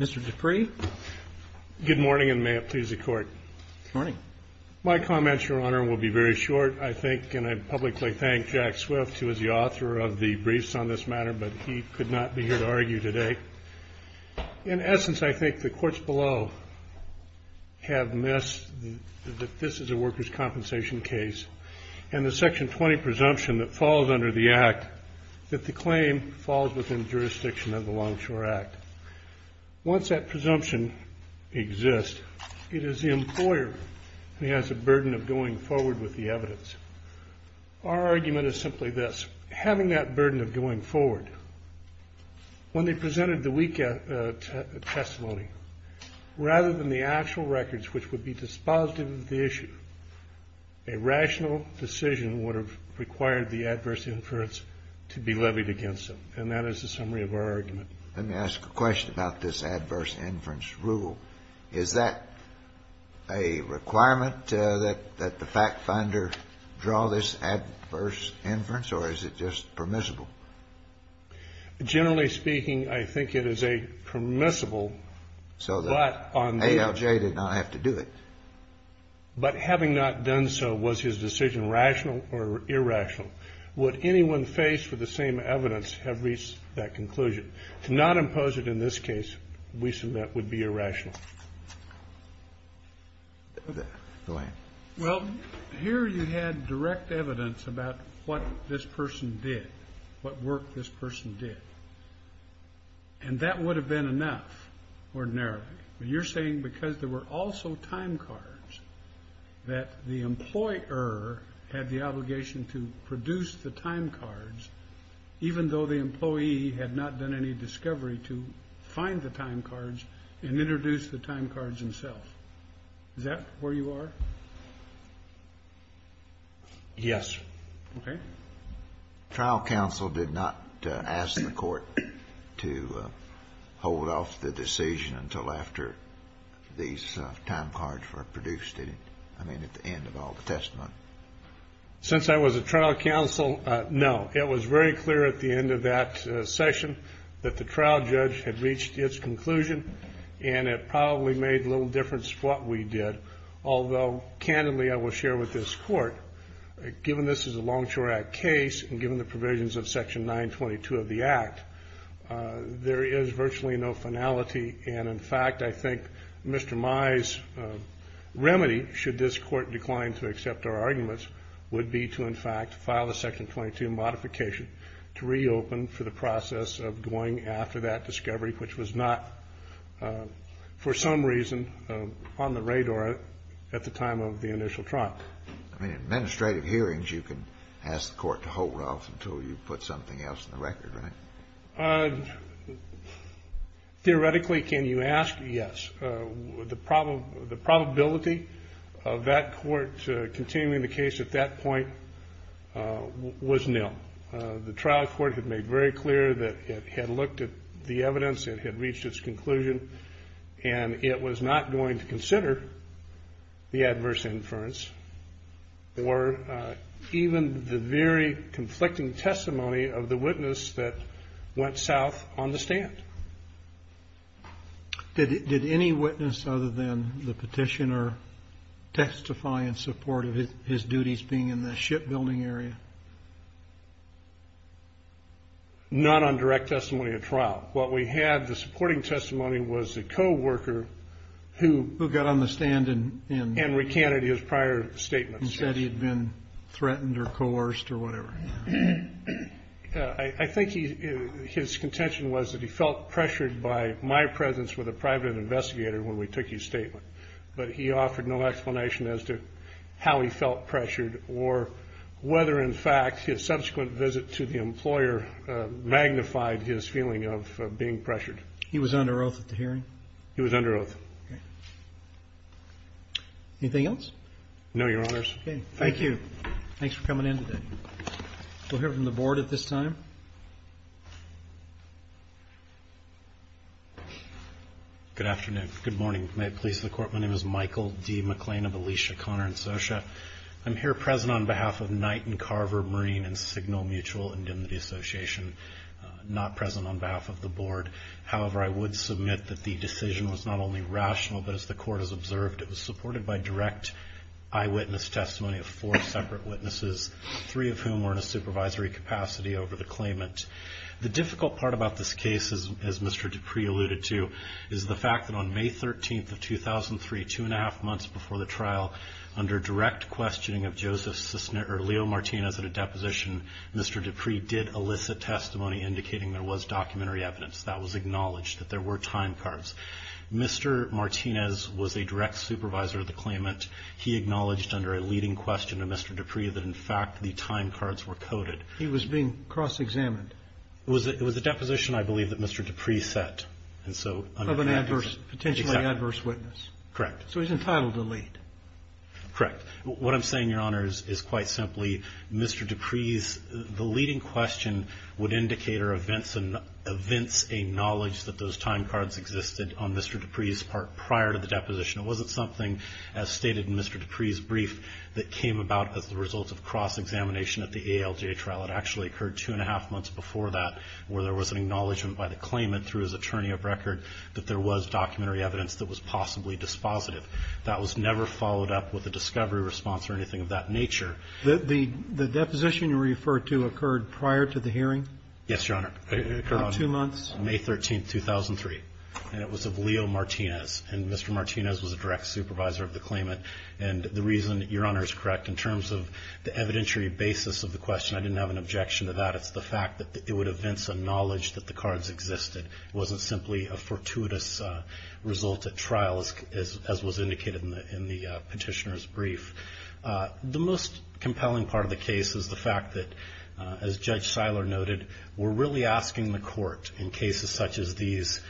Mr. Dupree, Good morning and may it please the Court. Good morning. My comments, Your Honor, will be very short. I think, and I publicly thank Jack Swift, who is the author of the briefs on this matter, but he could not be here to argue today. In essence, I think the courts below have missed that this is a workers' compensation case and the Section 20 presumption that falls under the Act that the claim falls within jurisdiction of the Longshore Act. Once that presumption exists, it is the employer who has a burden of going forward with the evidence. Our argument is simply this. Having that burden of going forward, when they presented the weak testimony, rather than the actual records which would be dispositive of the issue, a rational decision would have required the adverse inference to be levied against them. And that is the summary of our argument. Kennedy Let me ask a question about this adverse inference rule. Is that a requirement that the fact finder draw this adverse inference, or is it just permissible? Generally speaking, I think it is a permissible, but on the other hand. Kennedy So that ALJ did not have to do it. But having not done so, was his decision rational or irrational? Would anyone faced with the same evidence have reached that conclusion? To not impose it in this case, we submit, would be irrational. Kennedy Go ahead. Well, here you had direct evidence about what this person did, what work this person did. And that would have been enough, ordinarily. But you're saying because there were also time cards, that the employer had the obligation to produce the time cards, even though the employee had not done any discovery to find the time cards and introduce the time cards himself. Is that where you are? Yes. Kennedy Okay. Trial counsel did not ask the Court to hold off the decision until after these time cards were produced. I mean, at the end of all the testimony. Since I was a trial counsel, no. It was very clear at the end of that session that the trial judge had reached its conclusion, and it probably made little difference what we did. Although, candidly, I will share with this Court, given this is a Longshore Act case, and given the provisions of Section 922 of the Act, there is virtually no finality. And, in fact, I think Mr. Mai's remedy, should this Court decline to accept our arguments, would be to, in fact, file a Section 22 modification to reopen for the process of going after that discovery, which was not, for some reason, on the radar at the time of the initial trial. Kennedy I mean, in administrative hearings, you can ask the Court to hold off until you put something else in the record, right? Roberts Theoretically, can you ask? Yes. The probability of that Court continuing the case at that point was nil. The trial court had made very clear that it had looked at the evidence, it had reached its conclusion, and it was not going to consider the adverse inference or even the very conflicting testimony of the witness that went south on the stand. Did any witness other than the petitioner testify in support of his duties being in the shipbuilding area? Not on direct testimony at trial. What we had, the supporting testimony, was a co-worker who got on the stand and recanted his prior statements. He said he had been threatened or coerced or whatever. I think his contention was that he felt pressured by my presence with a private investigator when we took his statement, but he offered no explanation as to how he felt pressured or whether, in fact, his subsequent visit to the employer magnified his feeling of being pressured. He was under oath at the hearing? He was under oath. Okay. Anything else? No, Your Honors. Okay. Thank you. Thanks for coming in today. We'll hear from the Board at this time. Good afternoon. Good morning. May it please the Court, my name is Michael D. McClain of Alicia, Connor & Socha. I'm here present on behalf of Knight & Carver Marine and Signal Mutual Indemnity Association, not present on behalf of the Board. However, I would submit that the decision was not only rational, but as the Court has observed, it was supported by direct eyewitness testimony of four separate witnesses, three of whom were in a supervisory capacity over the claimant. The difficult part about this case, as Mr. Dupree alluded to, is the fact that on May 13th of 2003, two and a half months before the trial, under direct questioning of Leo Martinez at a deposition, Mr. Dupree did elicit testimony indicating there was documentary evidence. That was acknowledged that there were time cards. Mr. Martinez was a direct supervisor of the claimant. He acknowledged under a leading question of Mr. Dupree that, in fact, the time cards were coded. He was being cross-examined. It was a deposition, I believe, that Mr. Dupree set. Of an adverse, potentially adverse witness. Correct. So he's entitled to lead. Correct. What I'm saying, Your Honors, is quite simply, Mr. Dupree's leading question would indicate that there are events, and events acknowledge that those time cards existed on Mr. Dupree's part prior to the deposition. It wasn't something, as stated in Mr. Dupree's brief, that came about as the result of cross-examination at the ALJ trial. It actually occurred two and a half months before that, where there was an acknowledgement by the claimant through his attorney of record that there was documentary evidence that was possibly dispositive. That was never followed up with a discovery response or anything of that nature. The deposition you refer to occurred prior to the hearing? Yes, Your Honor. It occurred two months? May 13, 2003. And it was of Leo Martinez. And Mr. Martinez was a direct supervisor of the claimant. And the reason, Your Honor, is correct, in terms of the evidentiary basis of the question, I didn't have an objection to that. It's the fact that it would evince a knowledge that the cards existed. It wasn't simply a fortuitous result at trial, as was indicated in the Petitioner's brief. The most compelling part of the case is the fact that, as Judge Seiler noted, we're really asking the court in cases such as these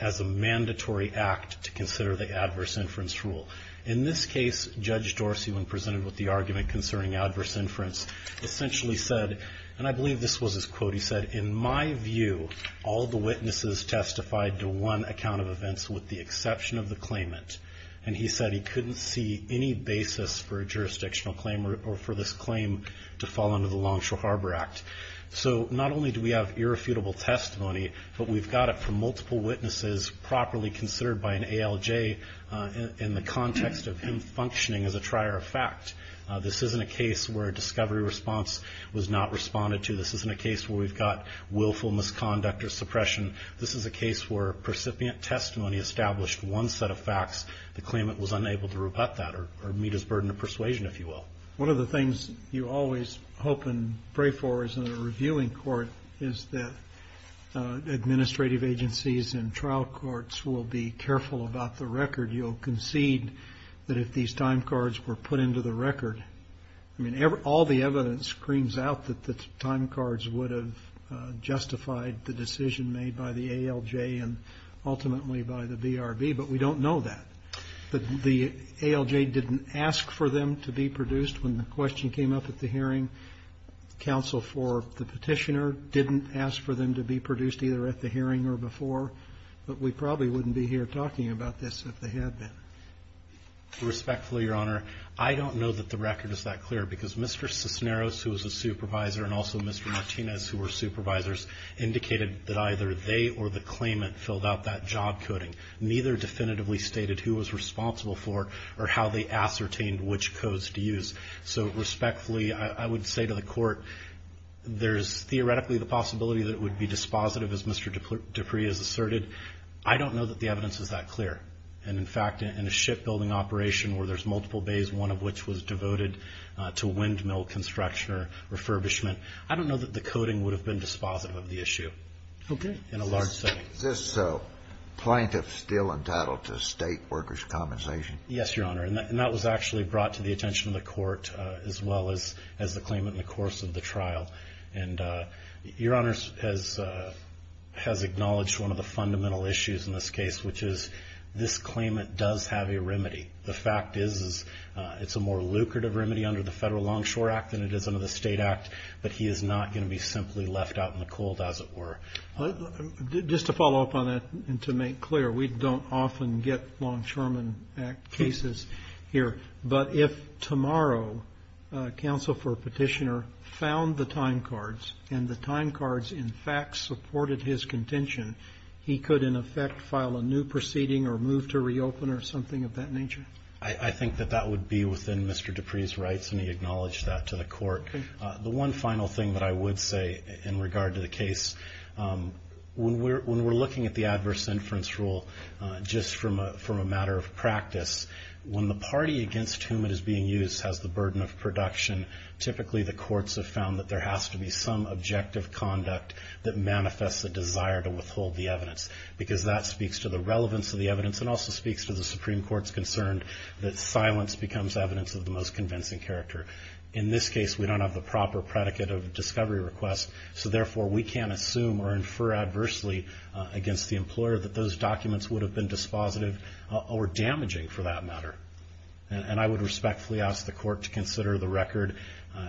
as a mandatory act to consider the adverse inference rule. In this case, Judge Dorsey, when presented with the argument concerning adverse inference, essentially said, and I believe this was his quote, he said, in my view, all the witnesses testified to one account of events with the exception of the claimant. And he said he couldn't see any basis for a jurisdictional claim or for this claim to fall under the Longshore Harbor Act. So not only do we have irrefutable testimony, but we've got it from multiple witnesses properly considered by an ALJ in the context of him functioning as a trier of fact. This isn't a case where a discovery response was not responded to. This isn't a case where we've got willful misconduct or suppression. This is a case where percipient testimony established one set of facts. The claimant was unable to rebut that or meet his burden of persuasion, if you will. One of the things you always hope and pray for is in a reviewing court is that administrative agencies and trial courts will be careful about the record. You'll concede that if these time cards were put into the record, I mean, all the evidence screams out that the time cards would have justified the decision made by the ALJ and ultimately by the BRB, but we don't know that. The ALJ didn't ask for them to be produced when the question came up at the hearing. Counsel for the Petitioner didn't ask for them to be produced either at the hearing or before, but we probably wouldn't be here talking about this if they had been. Respectfully, Your Honor, I don't know that the record is that clear because Mr. Cisneros, who was a supervisor, and also Mr. Martinez, who were supervisors, indicated that either they or the claimant filled out that job coding. Neither definitively stated who was responsible for or how they ascertained which codes to use. So respectfully, I would say to the Court, there's theoretically the possibility that it would be dispositive, as Mr. Dupree has asserted. I don't know that the evidence is that clear. And, in fact, in a shipbuilding operation where there's multiple bays, one of which was devoted to windmill construction or refurbishment, I don't know that the coding would have been dispositive of the issue in a large setting. Is this plaintiff still entitled to state workers' compensation? Yes, Your Honor, and that was actually brought to the attention of the Court as well as the claimant in the course of the trial. And Your Honor has acknowledged one of the fundamental issues in this case, which is this claimant does have a remedy. The fact is it's a more lucrative remedy under the Federal Longshore Act than it is under the State Act, but he is not going to be simply left out in the cold, as it were. Just to follow up on that and to make clear, we don't often get Longshoreman Act cases here, but if tomorrow a counsel for a petitioner found the time cards and the time cards, in fact, supported his contention, he could, in effect, file a new proceeding or move to reopen or something of that nature? I think that that would be within Mr. Dupree's rights, and he acknowledged that to the Court. The one final thing that I would say in regard to the case, when we're looking at the adverse inference rule just from a matter of practice, when the party against whom it is being used has the burden of production, typically the courts have found that there has to be some objective conduct that manifests a desire to withhold the evidence because that speaks to the relevance of the evidence and also speaks to the Supreme Court's concern that silence becomes evidence of the most convincing character. In this case, we don't have the proper predicate of a discovery request, so therefore we can't assume or infer adversely against the employer that those documents would have been dispositive or damaging, for that matter. And I would respectfully ask the Court to consider the record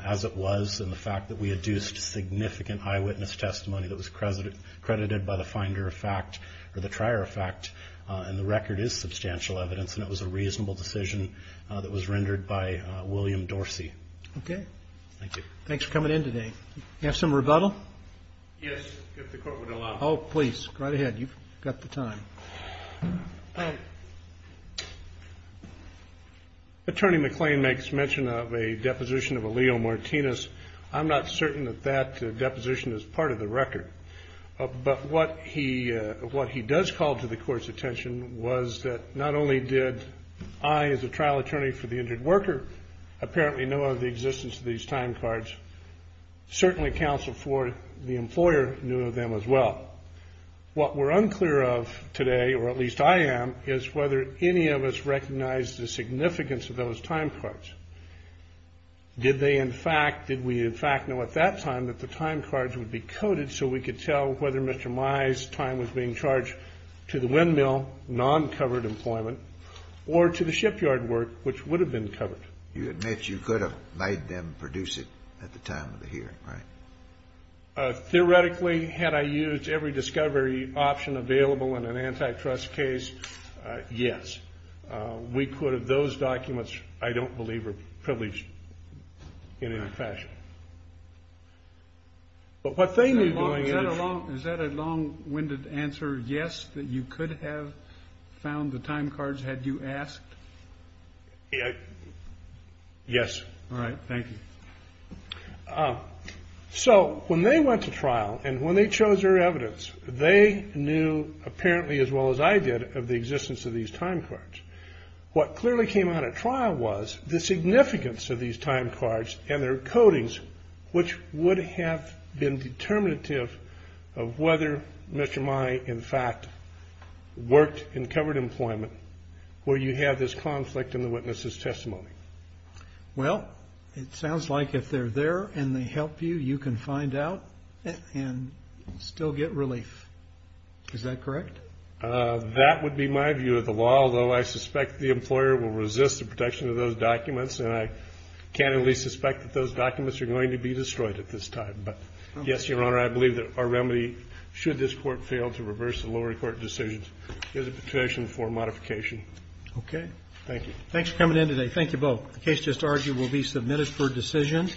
as it was and the fact that we adduced significant eyewitness testimony that was credited by the finder of fact or the trier of fact, and the record is substantial evidence, and it was a reasonable decision that was rendered by William Dorsey. Okay. Thank you. Thanks for coming in today. Do you have some rebuttal? Yes, if the Court would allow it. Oh, please. Go right ahead. You've got the time. Attorney McLean makes mention of a deposition of a Leo Martinez. I'm not certain that that deposition is part of the record, but what he does call to the Court's attention was that not only did I, as a trial attorney for the injured worker, apparently know of the existence of these time cards, certainly counsel for the employer knew of them as well. What we're unclear of today, or at least I am, is whether any of us recognized the significance of those time cards. Did they, in fact, did we, in fact, know at that time that the time cards would be coded so we could tell whether Mr. Meyer's time was being charged to the windmill, non-covered employment, or to the shipyard work, which would have been covered? You admit you could have made them produce it at the time of the hearing, right? Theoretically, had I used every discovery option available in an antitrust case, yes. We could have. Those documents, I don't believe, are privileged in any fashion. Is that a long-winded answer, yes, that you could have found the time cards had you asked? Yes. All right. Thank you. So when they went to trial and when they chose their evidence, they knew apparently as well as I did of the existence of these time cards. What clearly came out at trial was the significance of these time cards and their codings, which would have been determinative of whether Mr. Meyer, in fact, worked in covered employment, where you have this conflict in the witness's testimony. Well, it sounds like if they're there and they help you, you can find out and still get relief. Is that correct? That would be my view of the law, although I suspect the employer will resist the protection of those documents, and I can't really suspect that those documents are going to be destroyed at this time. But, yes, Your Honor, I believe that our remedy, should this court fail to reverse the lower court decisions, is a petition for modification. Okay. Thank you. Thanks for coming in today. Thank you both. The case just argued will be submitted for decision.